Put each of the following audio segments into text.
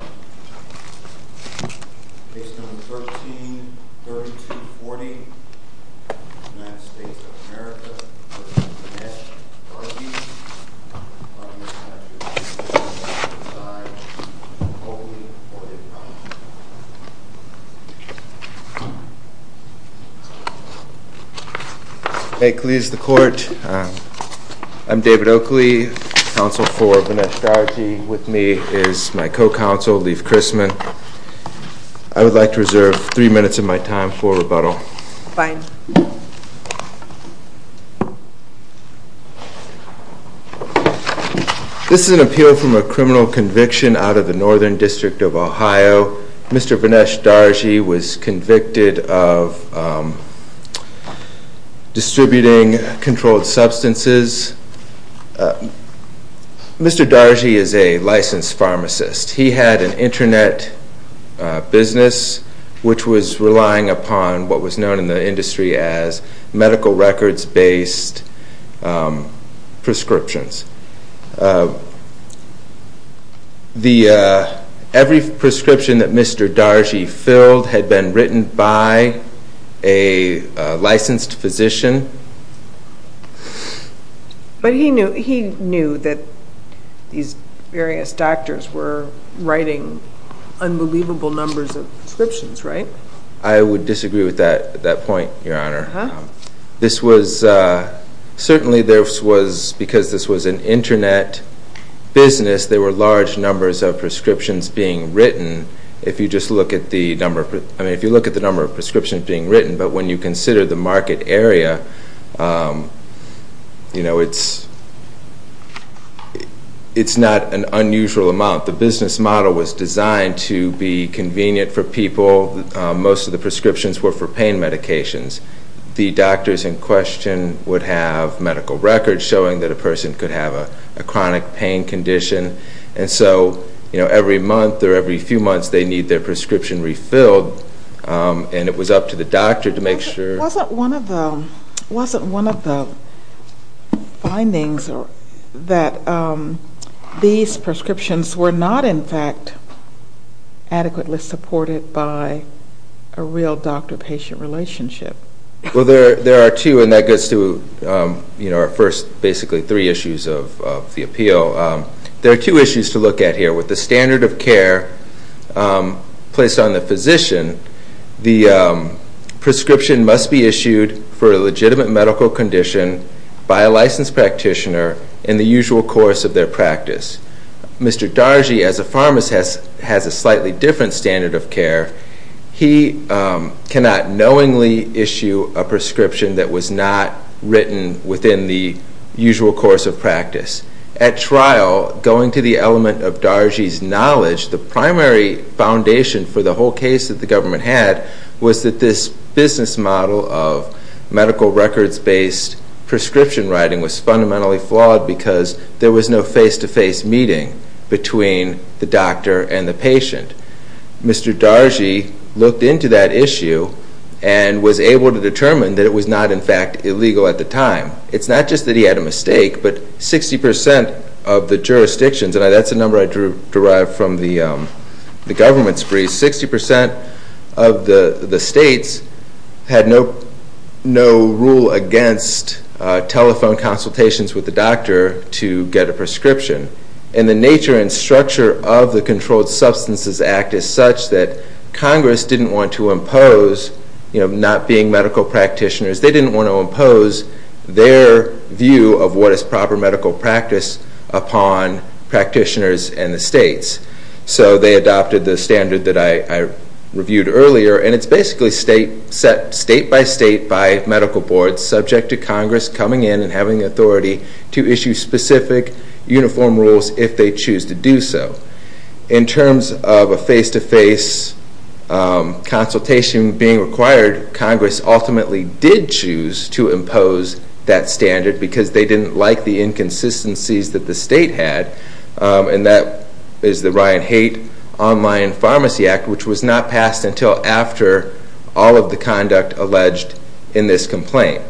Based on 13.32.40, United States of America v. Vinesh Darji, I'm here to ask you to please come to the side of David Oakley for the apology. May it please the Court, I'm David Oakley, counsel for Vinesh Darji. With me is my co-counsel, Leif Christman. I would like to reserve three minutes of my time for rebuttal. Fine. This is an appeal from a criminal conviction out of the Northern District of Ohio. So Mr. Vinesh Darji was convicted of distributing controlled substances. Mr. Darji is a licensed pharmacist. He had an internet business which was relying upon what was known in the industry as medical records based prescriptions. Every prescription that Mr. Darji filled had been written by a licensed physician. But he knew that these various doctors were writing unbelievable numbers of prescriptions, right? I would disagree with that point, Your Honor. Certainly because this was an internet business, there were large numbers of prescriptions being written. If you just look at the number of prescriptions being written, but when you consider the market area, it's not an unusual amount. The business model was designed to be convenient for people. Most of the prescriptions were for pain medications. The doctors in question would have medical records showing that a person could have a chronic pain condition. And so every month or every few months they need their prescription refilled, and it was up to the doctor to make sure. It wasn't one of the findings that these prescriptions were not, in fact, adequately supported by a real doctor-patient relationship. Well, there are two, and that gets to our first basically three issues of the appeal. There are two issues to look at here. With the standard of care placed on the physician, the prescription must be issued for a legitimate medical condition by a licensed practitioner in the usual course of their practice. Mr. Dargy, as a pharmacist, has a slightly different standard of care. He cannot knowingly issue a prescription that was not written within the usual course of practice. At trial, going to the element of Dargy's knowledge, the primary foundation for the whole case that the government had was that this business model of medical records-based prescription writing was fundamentally flawed because there was no face-to-face meeting between the doctor and the patient. Mr. Dargy looked into that issue and was able to determine that it was not, in fact, illegal at the time. It's not just that he had a mistake, but 60% of the jurisdictions, and that's a number I derived from the government's brief, 60% of the states had no rule against telephone consultations with the doctor to get a prescription. And the nature and structure of the Controlled Substances Act is such that Congress didn't want to impose, not being medical practitioners, they didn't want to impose their view of what is proper medical practice upon practitioners and the states. So they adopted the standard that I reviewed earlier, and it's basically set state-by-state by medical boards subject to Congress coming in and having authority to issue specific uniform rules if they choose to do so. In terms of a face-to-face consultation being required, Congress ultimately did choose to impose that standard because they didn't like the inconsistencies that the state had, and that is the Ryan Haight Online Pharmacy Act, which was not passed until after all of the conduct alleged in this complaint.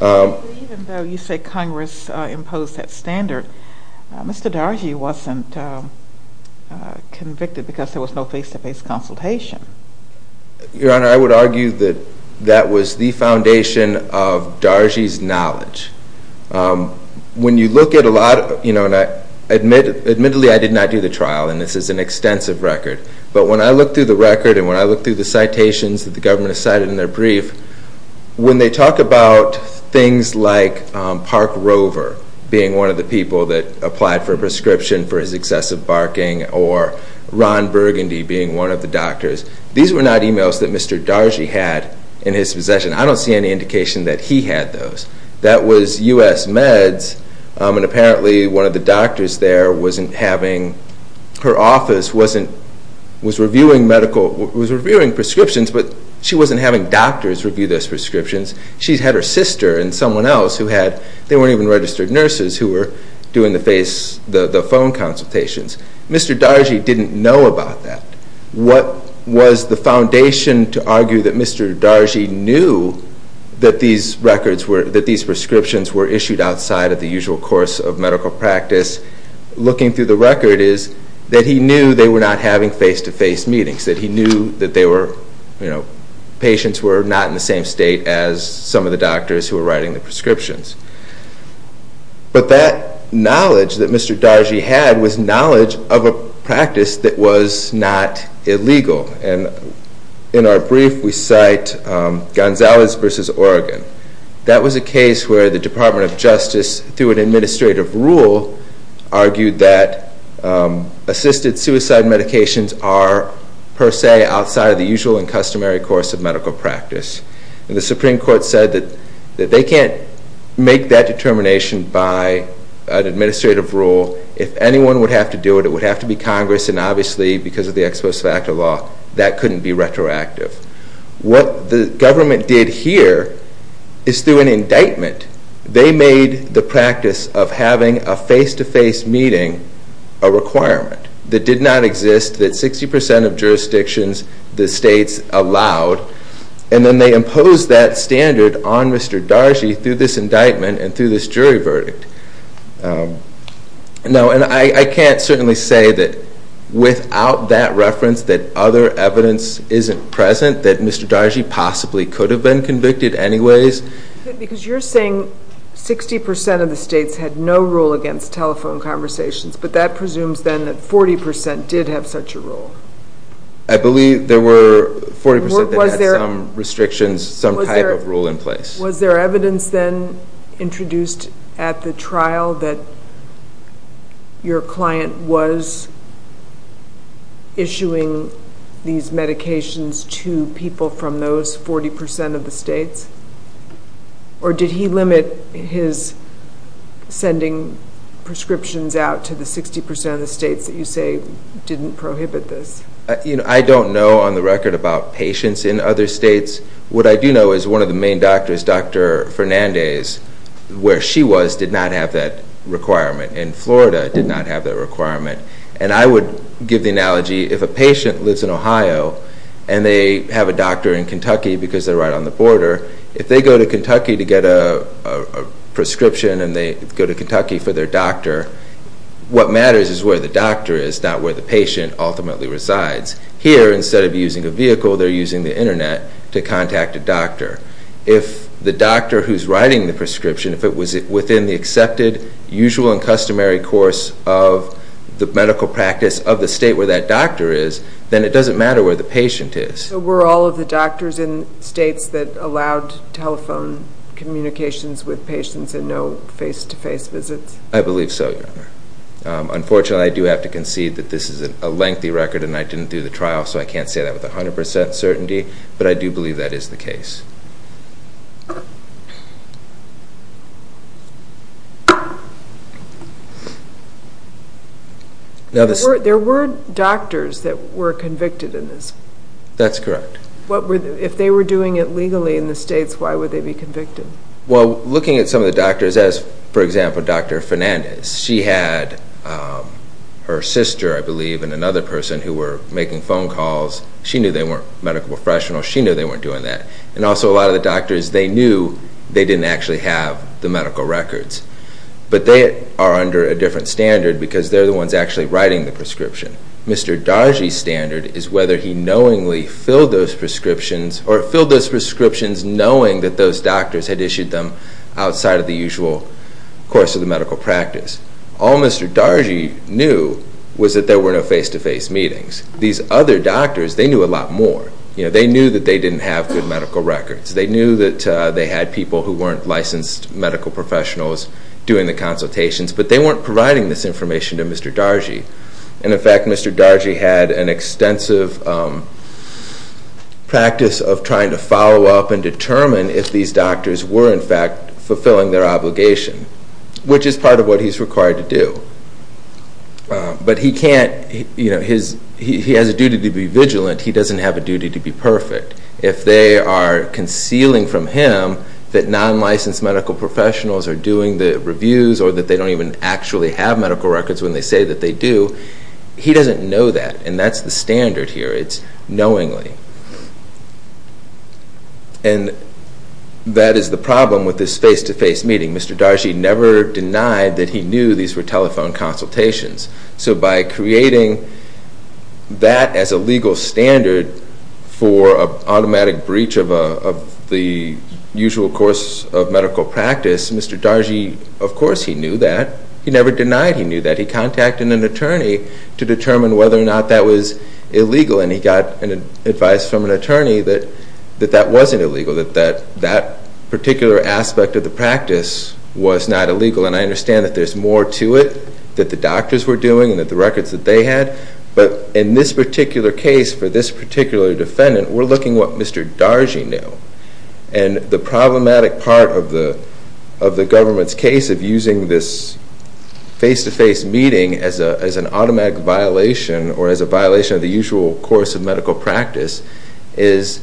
Even though you say Congress imposed that standard, Mr. Dargy wasn't convicted because there was no face-to-face consultation. Your Honor, I would argue that that was the foundation of Dargy's knowledge. When you look at a lot of, you know, and admittedly I did not do the trial, and this is an extensive record, but when I look through the record and when I look through the citations that the government has cited in their brief, when they talk about things like Park Rover being one of the people that applied for a prescription for his excessive barking or Ron Burgundy being one of the doctors, these were not emails that Mr. Dargy had in his possession. I don't see any indication that he had those. That was U.S. Meds, and apparently one of the doctors there wasn't having, her office wasn't, was reviewing medical, was reviewing prescriptions, but she wasn't having doctors review those prescriptions. She had her sister and someone else who had, they weren't even registered nurses, who were doing the face, the phone consultations. Mr. Dargy didn't know about that. What was the foundation to argue that Mr. Dargy knew that these records were, that these prescriptions were issued outside of the usual course of medical practice? Looking through the record is that he knew they were not having face-to-face meetings, that he knew that patients were not in the same state as some of the doctors who were writing the prescriptions. But that knowledge that Mr. Dargy had was knowledge of a practice that was not illegal, and in our brief we cite Gonzales v. Oregon. That was a case where the Department of Justice, through an administrative rule, argued that assisted suicide medications are, per se, outside of the usual and customary course of medical practice. And the Supreme Court said that they can't make that determination by an administrative rule. If anyone would have to do it, it would have to be Congress, and obviously because of the Exposed Factor Law, that couldn't be retroactive. What the government did here is through an indictment. They made the practice of having a face-to-face meeting a requirement that did not exist, that 60% of jurisdictions, the states, allowed, and then they imposed that standard on Mr. Dargy through this indictment and through this jury verdict. And I can't certainly say that without that reference that other evidence isn't present, that Mr. Dargy possibly could have been convicted anyways. Because you're saying 60% of the states had no rule against telephone conversations, but that presumes then that 40% did have such a rule. I believe there were 40% that had some restrictions, some type of rule in place. Was there evidence then introduced at the trial that your client was issuing these medications to people from those 40% of the states? Or did he limit his sending prescriptions out to the 60% of the states that you say didn't prohibit this? I don't know on the record about patients in other states. What I do know is one of the main doctors, Dr. Fernandez, where she was, did not have that requirement, and Florida did not have that requirement. And I would give the analogy, if a patient lives in Ohio and they have a doctor in Kentucky because they're right on the border, if they go to Kentucky to get a prescription and they go to Kentucky for their doctor, what matters is where the doctor is, not where the patient ultimately resides. Here, instead of using a vehicle, they're using the Internet to contact a doctor. If the doctor who's writing the prescription, if it was within the accepted usual and customary course of the medical practice of the state where that doctor is, then it doesn't matter where the patient is. So were all of the doctors in states that allowed telephone communications with patients and no face-to-face visits? I believe so, Your Honor. Unfortunately, I do have to concede that this is a lengthy record and I didn't do the trial, so I can't say that with 100% certainty, but I do believe that is the case. There were doctors that were convicted in this. That's correct. If they were doing it legally in the states, why would they be convicted? Well, looking at some of the doctors as, for example, Dr. Fernandez, she had her sister, I believe, and another person who were making phone calls. She knew they weren't medical professionals. She knew they weren't doing that. And also a lot of the doctors, they knew they didn't actually have the medical records. But they are under a different standard because they're the ones actually writing the prescription. Mr. Dargy's standard is whether he knowingly filled those prescriptions or filled those prescriptions knowing that those doctors had issued them outside of the usual course of the medical practice. All Mr. Dargy knew was that there were no face-to-face meetings. These other doctors, they knew a lot more. They knew that they didn't have good medical records. They knew that they had people who weren't licensed medical professionals doing the consultations, but they weren't providing this information to Mr. Dargy. And, in fact, Mr. Dargy had an extensive practice of trying to follow up and determine if these doctors were, in fact, fulfilling their obligation, which is part of what he's required to do. But he has a duty to be vigilant. He doesn't have a duty to be perfect. If they are concealing from him that non-licensed medical professionals are doing the reviews or that they don't even actually have medical records when they say that they do, he doesn't know that, and that's the standard here. It's knowingly. And that is the problem with this face-to-face meeting. Mr. Dargy never denied that he knew these were telephone consultations. So by creating that as a legal standard for an automatic breach of the usual course of medical practice, Mr. Dargy, of course he knew that. He never denied he knew that. He contacted an attorney to determine whether or not that was illegal, and he got advice from an attorney that that wasn't illegal, that that particular aspect of the practice was not illegal. And I understand that there's more to it that the doctors were doing and that the records that they had. But in this particular case, for this particular defendant, we're looking at what Mr. Dargy knew. And the problematic part of the government's case of using this face-to-face meeting as an automatic violation or as a violation of the usual course of medical practice is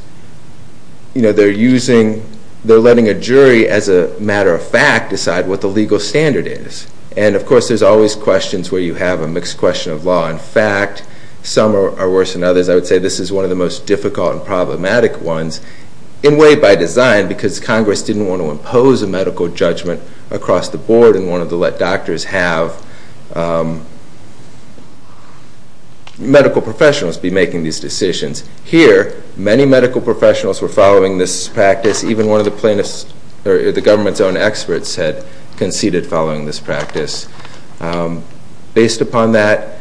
they're letting a jury, as a matter of fact, decide what the legal standard is. And, of course, there's always questions where you have a mixed question of law and fact. Some are worse than others. I would say this is one of the most difficult and problematic ones in a way by design because Congress didn't want to impose a medical judgment across the board and wanted to let doctors have medical professionals be making these decisions. Here, many medical professionals were following this practice. Even one of the plaintiffs or the government's own experts had conceded following this practice. Based upon that,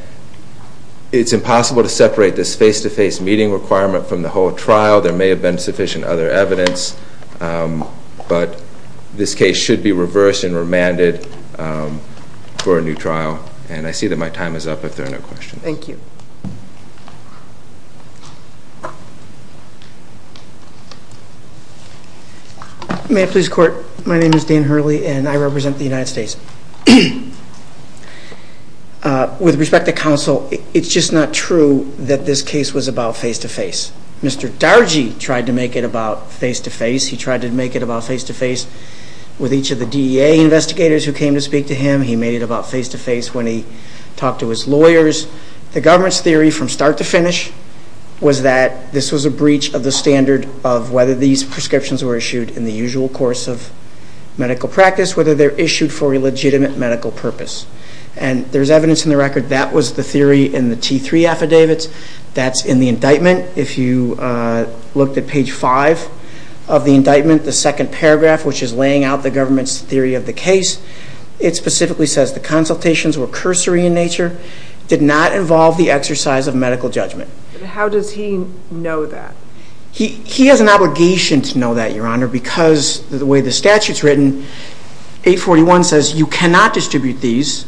it's impossible to separate this face-to-face meeting requirement from the whole trial. There may have been sufficient other evidence, but this case should be reversed and remanded for a new trial. And I see that my time is up if there are no questions. Thank you. May I please court? My name is Dan Hurley, and I represent the United States. With respect to counsel, it's just not true that this case was about face-to-face. Mr. Dargy tried to make it about face-to-face. He tried to make it about face-to-face with each of the DEA investigators who came to speak to him. He made it about face-to-face when he talked to his lawyers. The theory from start to finish was that this was a breach of the standard of whether these prescriptions were issued in the usual course of medical practice, whether they're issued for a legitimate medical purpose. And there's evidence in the record that was the theory in the T3 affidavits. That's in the indictment. If you looked at page 5 of the indictment, the second paragraph, which is laying out the government's theory of the case, it specifically says the consultations were cursory in nature, did not involve the exercise of medical judgment. How does he know that? He has an obligation to know that, Your Honor, because the way the statute's written, 841 says you cannot distribute these,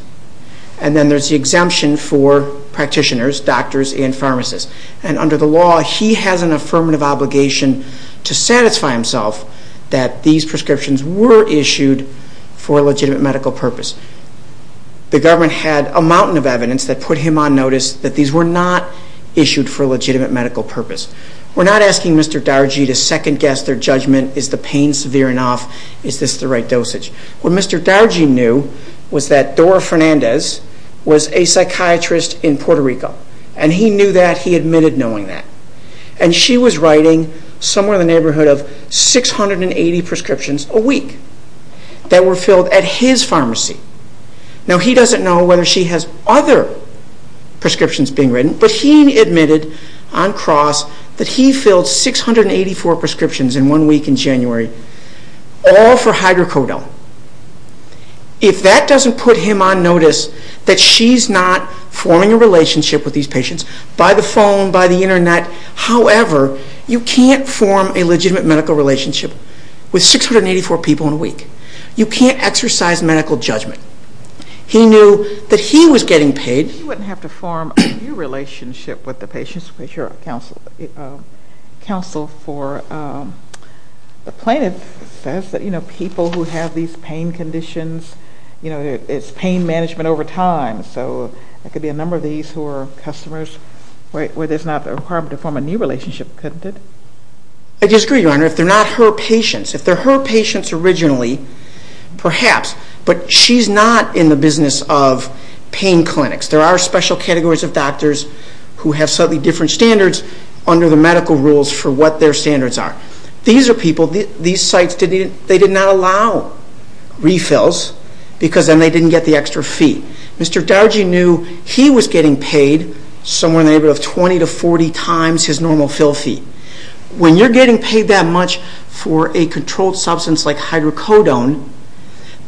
and then there's the exemption for practitioners, doctors, and pharmacists. And under the law, he has an affirmative obligation to satisfy himself that these prescriptions were issued for a legitimate medical purpose. The government had a mountain of evidence that put him on notice that these were not issued for a legitimate medical purpose. We're not asking Mr. Dargy to second-guess their judgment. Is the pain severe enough? Is this the right dosage? What Mr. Dargy knew was that Dora Fernandez was a psychiatrist in Puerto Rico, and he knew that, he admitted knowing that. And she was writing somewhere in the neighborhood of 680 prescriptions a week that were filled at his pharmacy. Now, he doesn't know whether she has other prescriptions being written, but he admitted on cross that he filled 684 prescriptions in one week in January, all for hydrocodone. If that doesn't put him on notice that she's not forming a relationship with these patients by the phone, by the Internet, however, you can't form a legitimate medical relationship with 684 people in a week. You can't exercise medical judgment. He knew that he was getting paid. If she wouldn't have to form a new relationship with the patients, because you're a counsel for the plaintiff says that, you know, people who have these pain conditions, you know, it's pain management over time, so it could be a number of these who are customers where there's not a requirement to form a new relationship, couldn't it? I disagree, Your Honor. If they're not her patients, if they're her patients originally, perhaps, but she's not in the business of pain clinics. There are special categories of doctors who have slightly different standards under the medical rules for what their standards are. These are people, these sites, they did not allow refills because then they didn't get the extra fee. Mr. Dargy knew he was getting paid somewhere in the neighborhood of 20 to 40 times his normal fill fee. When you're getting paid that much for a controlled substance like hydrocodone,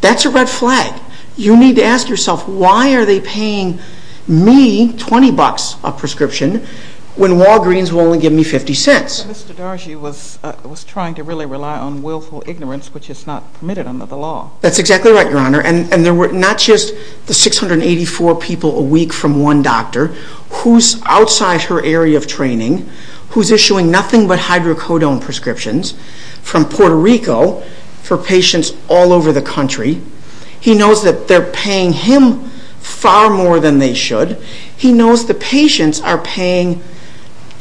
that's a red flag. You need to ask yourself, why are they paying me 20 bucks a prescription when Walgreens will only give me 50 cents? Mr. Dargy was trying to really rely on willful ignorance, which is not permitted under the law. That's exactly right, Your Honor. And there were not just the 684 people a week from one doctor who's outside her area of training, who's issuing nothing but hydrocodone prescriptions from Puerto Rico for patients all over the country. He knows that they're paying him far more than they should. He knows the patients are paying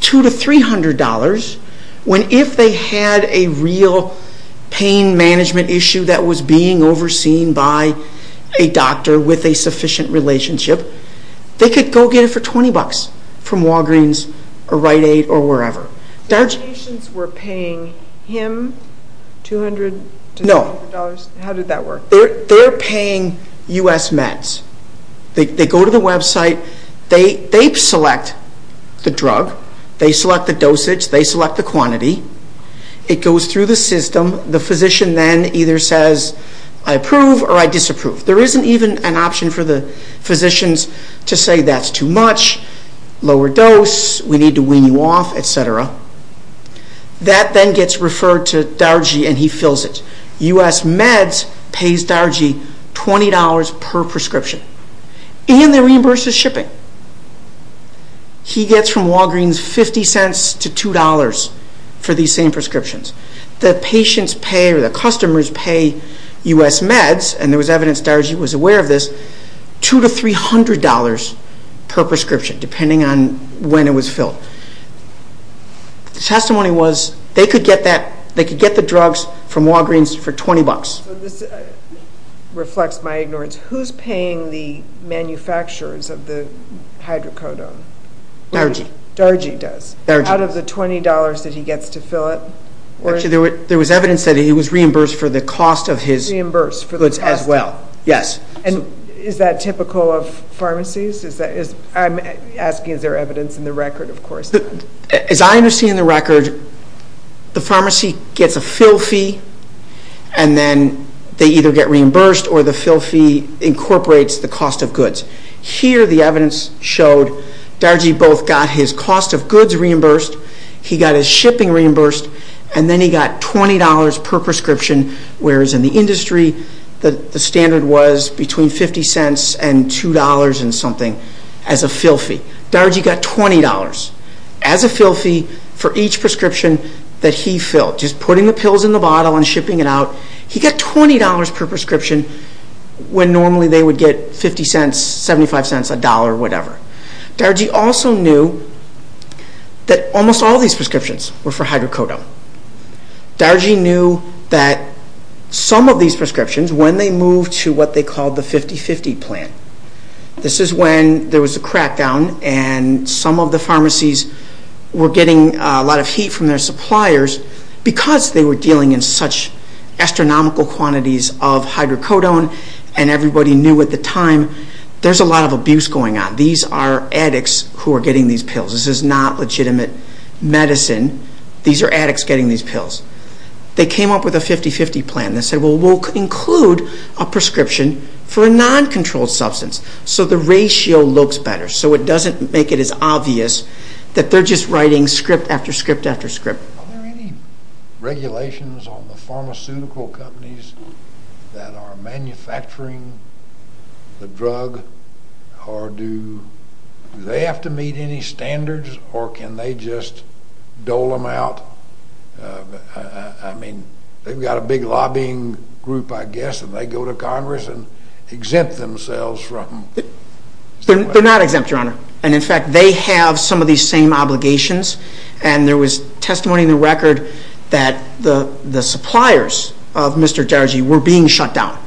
$200 to $300 when if they had a real pain management issue that was being overseen by a doctor with a sufficient relationship, they could go get it for 20 bucks from Walgreens or Rite Aid or wherever. The patients were paying him $200 to $300? No. How did that work? They're paying U.S. meds. They go to the website. They select the drug. They select the dosage. They select the quantity. It goes through the system. The physician then either says, I approve or I disapprove. There isn't even an option for the physicians to say that's too much, lower dose, we need to wean you off, et cetera. That then gets referred to Dargie and he fills it. U.S. meds pays Dargie $20 per prescription. And they reimburse his shipping. He gets from Walgreens 50 cents to $2 for these same prescriptions. The patients pay or the customers pay U.S. meds, and there was evidence Dargie was aware of this, $200 to $300 per prescription depending on when it was filled. The testimony was they could get the drugs from Walgreens for 20 bucks. This reflects my ignorance. Who's paying the manufacturers of the hydrocodone? Dargie. Dargie does? Dargie does. So is it $20 that he gets to fill it? Actually, there was evidence that he was reimbursed for the cost of his goods as well. Reimbursed for the cost? Yes. And is that typical of pharmacies? I'm asking is there evidence in the record. Of course not. As I understand the record, the pharmacy gets a fill fee Here the evidence showed Dargie both got his cost of goods reimbursed, he got his shipping reimbursed, and then he got $20 per prescription, whereas in the industry the standard was between 50 cents and $2 and something as a fill fee. Dargie got $20 as a fill fee for each prescription that he filled, just putting the pills in the bottle and shipping it out. He got $20 per prescription when normally they would get 50 cents, 75 cents, a dollar, whatever. Dargie also knew that almost all these prescriptions were for hydrocodone. Dargie knew that some of these prescriptions, when they moved to what they called the 50-50 plan, this is when there was a crackdown and some of the pharmacies were getting a lot of heat from their suppliers because they were dealing in such astronomical quantities of hydrocodone and everybody knew at the time there's a lot of abuse going on. These are addicts who are getting these pills. This is not legitimate medicine. These are addicts getting these pills. They came up with a 50-50 plan. They said we'll include a prescription for a non-controlled substance so the ratio looks better, so it doesn't make it as obvious that they're just writing script after script after script. Are there any regulations on the pharmaceutical companies that are manufacturing the drug or do they have to meet any standards or can they just dole them out? I mean, they've got a big lobbying group, I guess, and they go to Congress and exempt themselves from... They're not exempt, Your Honor, and in fact they have some of these same obligations and there was testimony in the record that the suppliers of Mr. Darugy were being shut down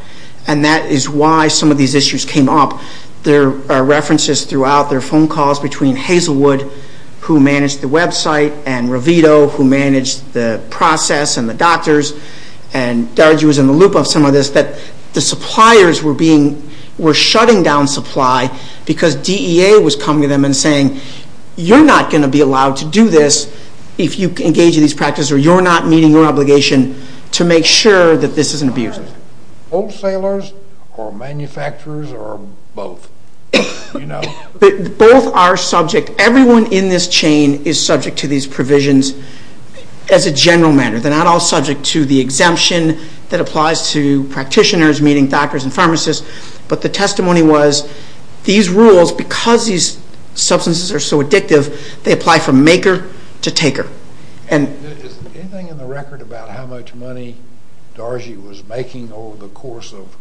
and that is why some of these issues came up. There are references throughout, there are phone calls between Hazelwood, who managed the website, and Revito, who managed the process and the doctors, and Darugy was in the loop of some of this, that the suppliers were shutting down supply because DEA was coming to them and saying, you're not going to be allowed to do this if you engage in these practices or you're not meeting your obligation to make sure that this isn't abused. Wholesalers or manufacturers or both? Both are subject. Everyone in this chain is subject to these provisions as a general matter. They're not all subject to the exemption that applies to practitioners, meaning doctors and pharmacists, but the testimony was these rules, because these substances are so addictive, they apply from maker to taker. Is there anything in the record about how much money Darugy was making over the course of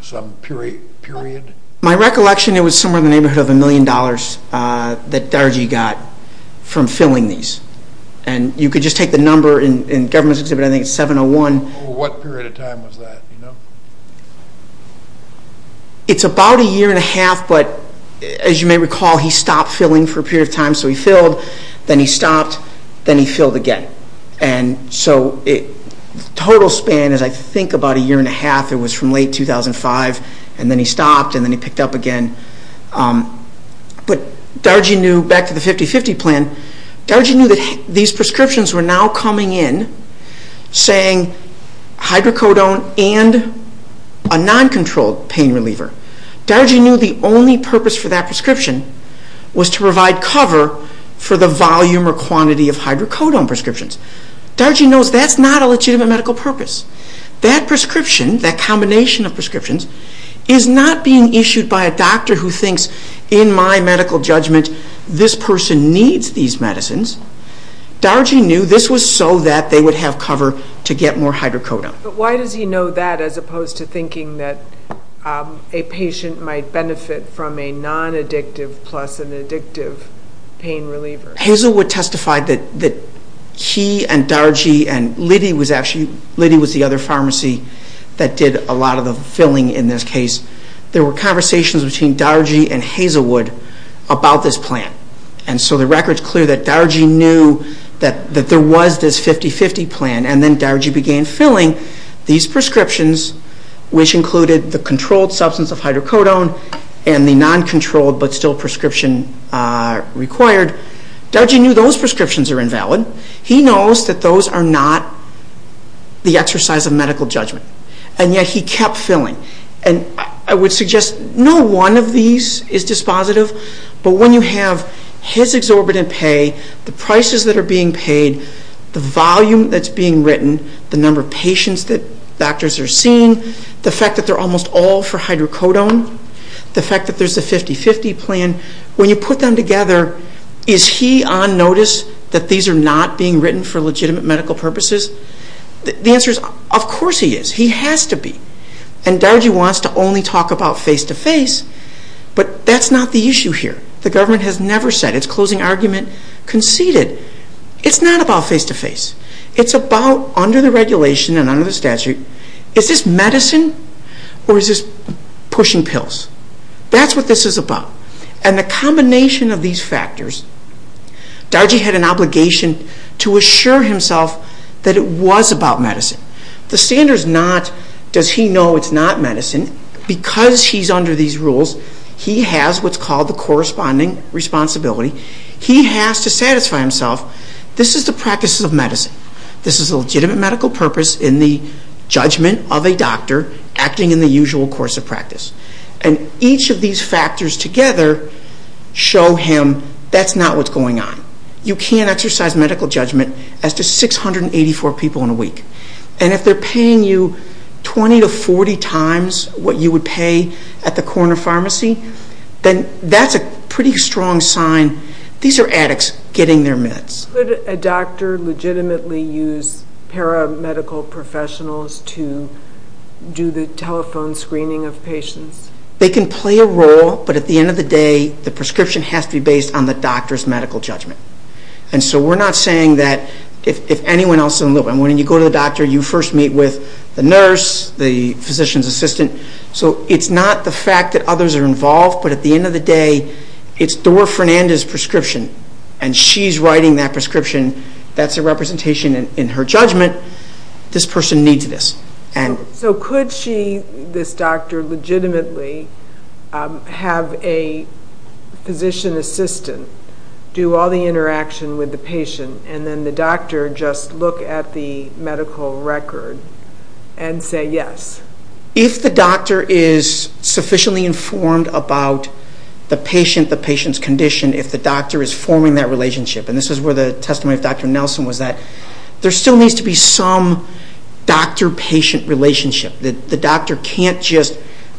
some period? My recollection, it was somewhere in the neighborhood of a million dollars that Darugy got from filling these. You could just take the number in the government's exhibit, I think it's 701. What period of time was that? Do you know? It's about a year and a half, but as you may recall, he stopped filling for a period of time. So he filled, then he stopped, then he filled again. So the total span is, I think, about a year and a half. It was from late 2005, and then he stopped, and then he picked up again. But Darugy knew, back to the 50-50 plan, Darugy knew that these prescriptions were now coming in saying hydrocodone and a non-controlled pain reliever. Darugy knew the only purpose for that prescription was to provide cover for the volume or quantity of hydrocodone prescriptions. Darugy knows that's not a legitimate medical purpose. That prescription, that combination of prescriptions, is not being issued by a doctor who thinks, in my medical judgment, this person needs these medicines. Darugy knew this was so that they would have cover to get more hydrocodone. But why does he know that as opposed to thinking that a patient might benefit from a non-addictive plus an addictive pain reliever? Hazelwood testified that he and Darugy, and Liddy was the other pharmacy that did a lot of the filling in this case. There were conversations between Darugy and Hazelwood about this plan. The record's clear that Darugy knew that there was this 50-50 plan, and then Darugy began filling these prescriptions, which included the controlled substance of hydrocodone and the non-controlled but still prescription required. Darugy knew those prescriptions are invalid. He knows that those are not the exercise of medical judgment, and yet he kept filling. I would suggest no one of these is dispositive, but when you have his exorbitant pay, the prices that are being paid, the volume that's being written, the number of patients that doctors are seeing, the fact that they're almost all for hydrocodone, the fact that there's a 50-50 plan, when you put them together, is he on notice that these are not being written for legitimate medical purposes? The answer is, of course he is. He has to be. And Darugy wants to only talk about face-to-face, but that's not the issue here. The government has never said it's closing argument conceded. It's not about face-to-face. It's about under the regulation and under the statute, is this medicine or is this pushing pills? That's what this is about. And the combination of these factors, Darugy had an obligation to assure himself that it was about medicine. The standard is not, does he know it's not medicine, because he's under these rules, he has what's called the corresponding responsibility. He has to satisfy himself, this is the practices of medicine. This is a legitimate medical purpose in the judgment of a doctor acting in the usual course of practice. And each of these factors together show him that's not what's going on. You can't exercise medical judgment as to 684 people in a week. And if they're paying you 20 to 40 times what you would pay at the corner pharmacy, then that's a pretty strong sign these are addicts getting their meds. Could a doctor legitimately use paramedical professionals to do the telephone screening of patients? They can play a role, but at the end of the day, the prescription has to be based on the doctor's medical judgment. And so we're not saying that if anyone else in the room, when you go to the doctor, you first meet with the nurse, the physician's assistant. So it's not the fact that others are involved, but at the end of the day, it's Doris Fernandez's prescription, and she's writing that prescription. That's a representation in her judgment, this person needs this. So could she, this doctor, legitimately have a physician assistant do all the interaction with the patient, and then the doctor just look at the medical record and say yes? If the doctor is sufficiently informed about the patient, the patient's condition, if the doctor is forming that relationship, and this is where the testimony of Dr. Nelson was that there still needs to be some doctor-patient relationship. The doctor can't just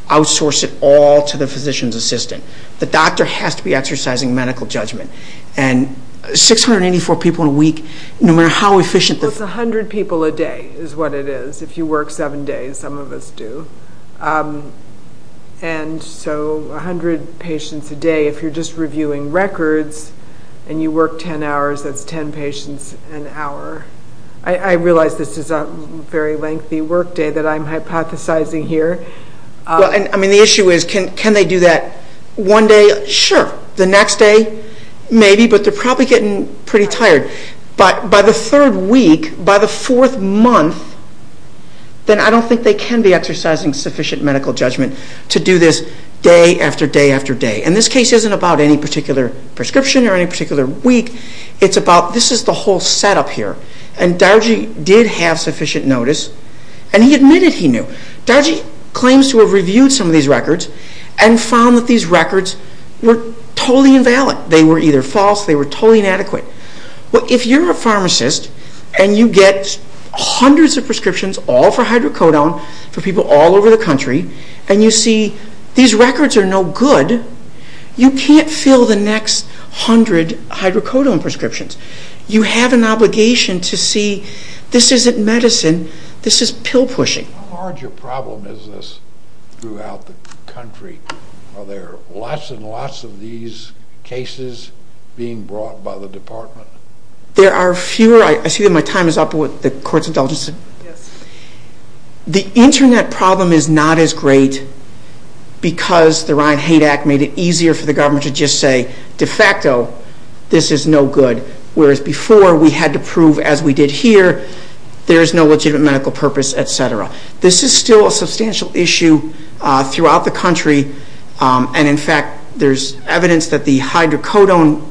outsource it all to the physician's assistant. The doctor has to be exercising medical judgment. 684 people in a week, no matter how efficient the... Well, it's 100 people a day is what it is. If you work 7 days, some of us do. And so 100 patients a day, if you're just reviewing records and you work 10 hours, that's 10 patients an hour. I realize this is a very lengthy workday that I'm hypothesizing here. Well, I mean, the issue is can they do that one day? Sure. The next day, maybe, but they're probably getting pretty tired. But by the third week, by the fourth month, then I don't think they can be exercising sufficient medical judgment to do this day after day after day. And this case isn't about any particular prescription or any particular week. It's about this is the whole setup here. And Dargie did have sufficient notice, and he admitted he knew. Dargie claims to have reviewed some of these records and found that these records were totally invalid. They were either false, they were totally inadequate. Well, if you're a pharmacist and you get hundreds of prescriptions all for hydrocodone for people all over the country, and you see these records are no good, you can't fill the next 100 hydrocodone prescriptions. You have an obligation to see this isn't medicine. This is pill-pushing. How large a problem is this throughout the country? Are there lots and lots of these cases being brought by the department? There are fewer. I see that my time is up. The court's indulgence. The Internet problem is not as great because the Ryan Hate Act made it easier for the government to just say, de facto, this is no good, whereas before we had to prove, as we did here, there is no legitimate medical purpose, et cetera. This is still a substantial issue throughout the country, and in fact there's evidence that the hydrocodone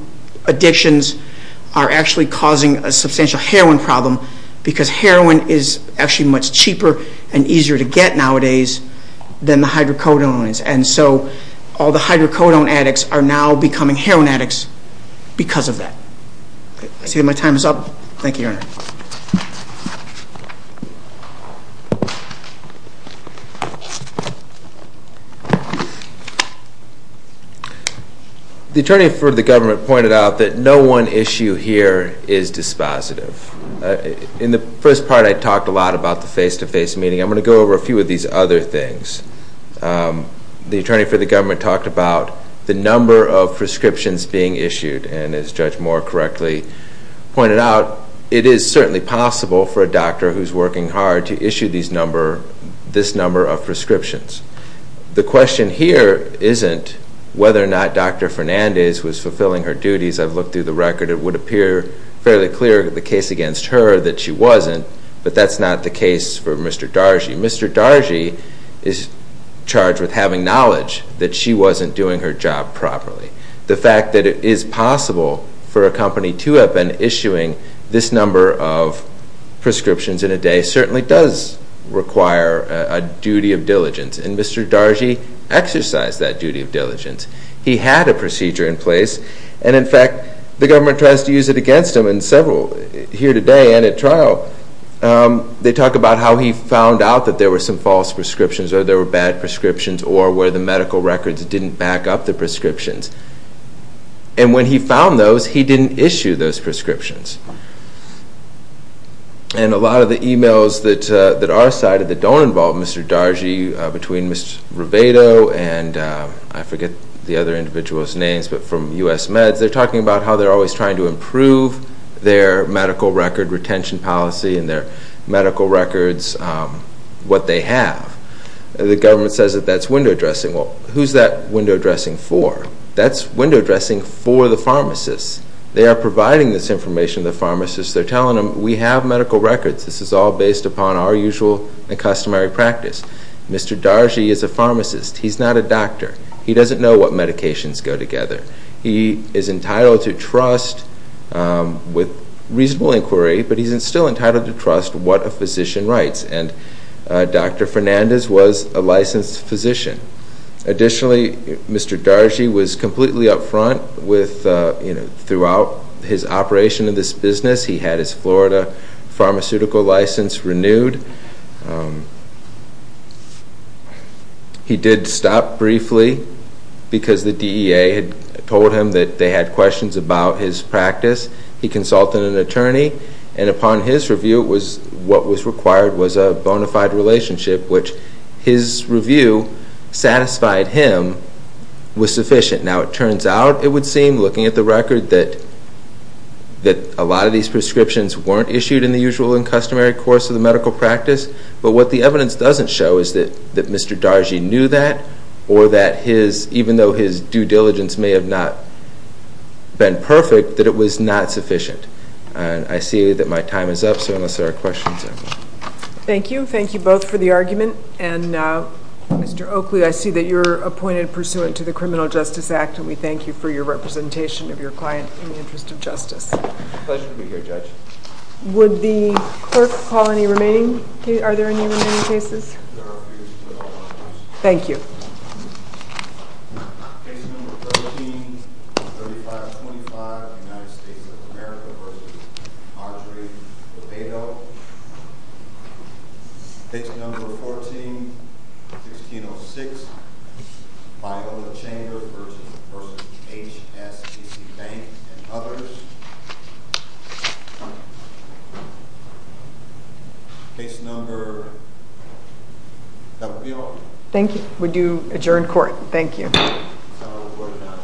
addictions are actually causing a substantial heroin problem because heroin is actually much cheaper and easier to get nowadays than the hydrocodone is. And so all the hydrocodone addicts are now becoming heroin addicts because of that. I see that my time is up. Thank you, Your Honor. The attorney for the government pointed out that no one issue here is dispositive. In the first part I talked a lot about the face-to-face meeting. I'm going to go over a few of these other things. The attorney for the government talked about the number of prescriptions being issued, and as Judge Moore correctly pointed out, it is certainly possible for a doctor who's working hard to issue this number of prescriptions. The question here isn't whether or not Dr. Fernandez was fulfilling her duties. I've looked through the record. It would appear fairly clear in the case against her that she wasn't, but that's not the case for Mr. Dargy. Mr. Dargy is charged with having knowledge that she wasn't doing her job properly. The fact that it is possible for a company to have been issuing this number of prescriptions in a day certainly does require a duty of diligence, and Mr. Dargy exercised that duty of diligence. He had a procedure in place, and in fact the government tries to use it against him in several here today and at trial. They talk about how he found out that there were some false prescriptions or there were bad prescriptions or where the medical records didn't back up the prescriptions. And when he found those, he didn't issue those prescriptions. And a lot of the e-mails that are cited that don't involve Mr. Dargy, between Mr. Rivedo and I forget the other individual's names, but from U.S. Meds, they're talking about how they're always trying to improve their medical record retention policy and their medical records, what they have. The government says that that's window dressing. Well, who's that window dressing for? That's window dressing for the pharmacists. They are providing this information to the pharmacists. They're telling them, we have medical records. This is all based upon our usual and customary practice. Mr. Dargy is a pharmacist. He's not a doctor. He doesn't know what medications go together. He is entitled to trust with reasonable inquiry, but he's still entitled to trust what a physician writes. And Dr. Fernandez was a licensed physician. Additionally, Mr. Dargy was completely up front throughout his operation in this business. He had his Florida pharmaceutical license renewed. He did stop briefly because the DEA had told him that they had questions about his practice. He consulted an attorney. And upon his review, what was required was a bona fide relationship, which his review satisfied him was sufficient. Now, it turns out, it would seem, looking at the record, that a lot of these prescriptions weren't issued in the usual and customary course of the medical practice. But what the evidence doesn't show is that Mr. Dargy knew that or that even though his due diligence may have not been perfect, that it was not sufficient. And I see that my time is up, so unless there are questions, I'm done. Thank you. Thank you both for the argument. And Mr. Oakley, I see that you're appointed pursuant to the Criminal Justice Act, and we thank you for your representation of your client in the interest of justice. Pleasure to be here, Judge. Would the clerk call any remaining cases? Are there any remaining cases? There are a few. Thank you. Case number 13-3525, United States of America v. Audrey Beto. Case number 14-1606, Biola Chambers v. H. S. C. Banks and others. Case number W. Thank you. We do adjourn court. Thank you. This is all recorded now. Thank you.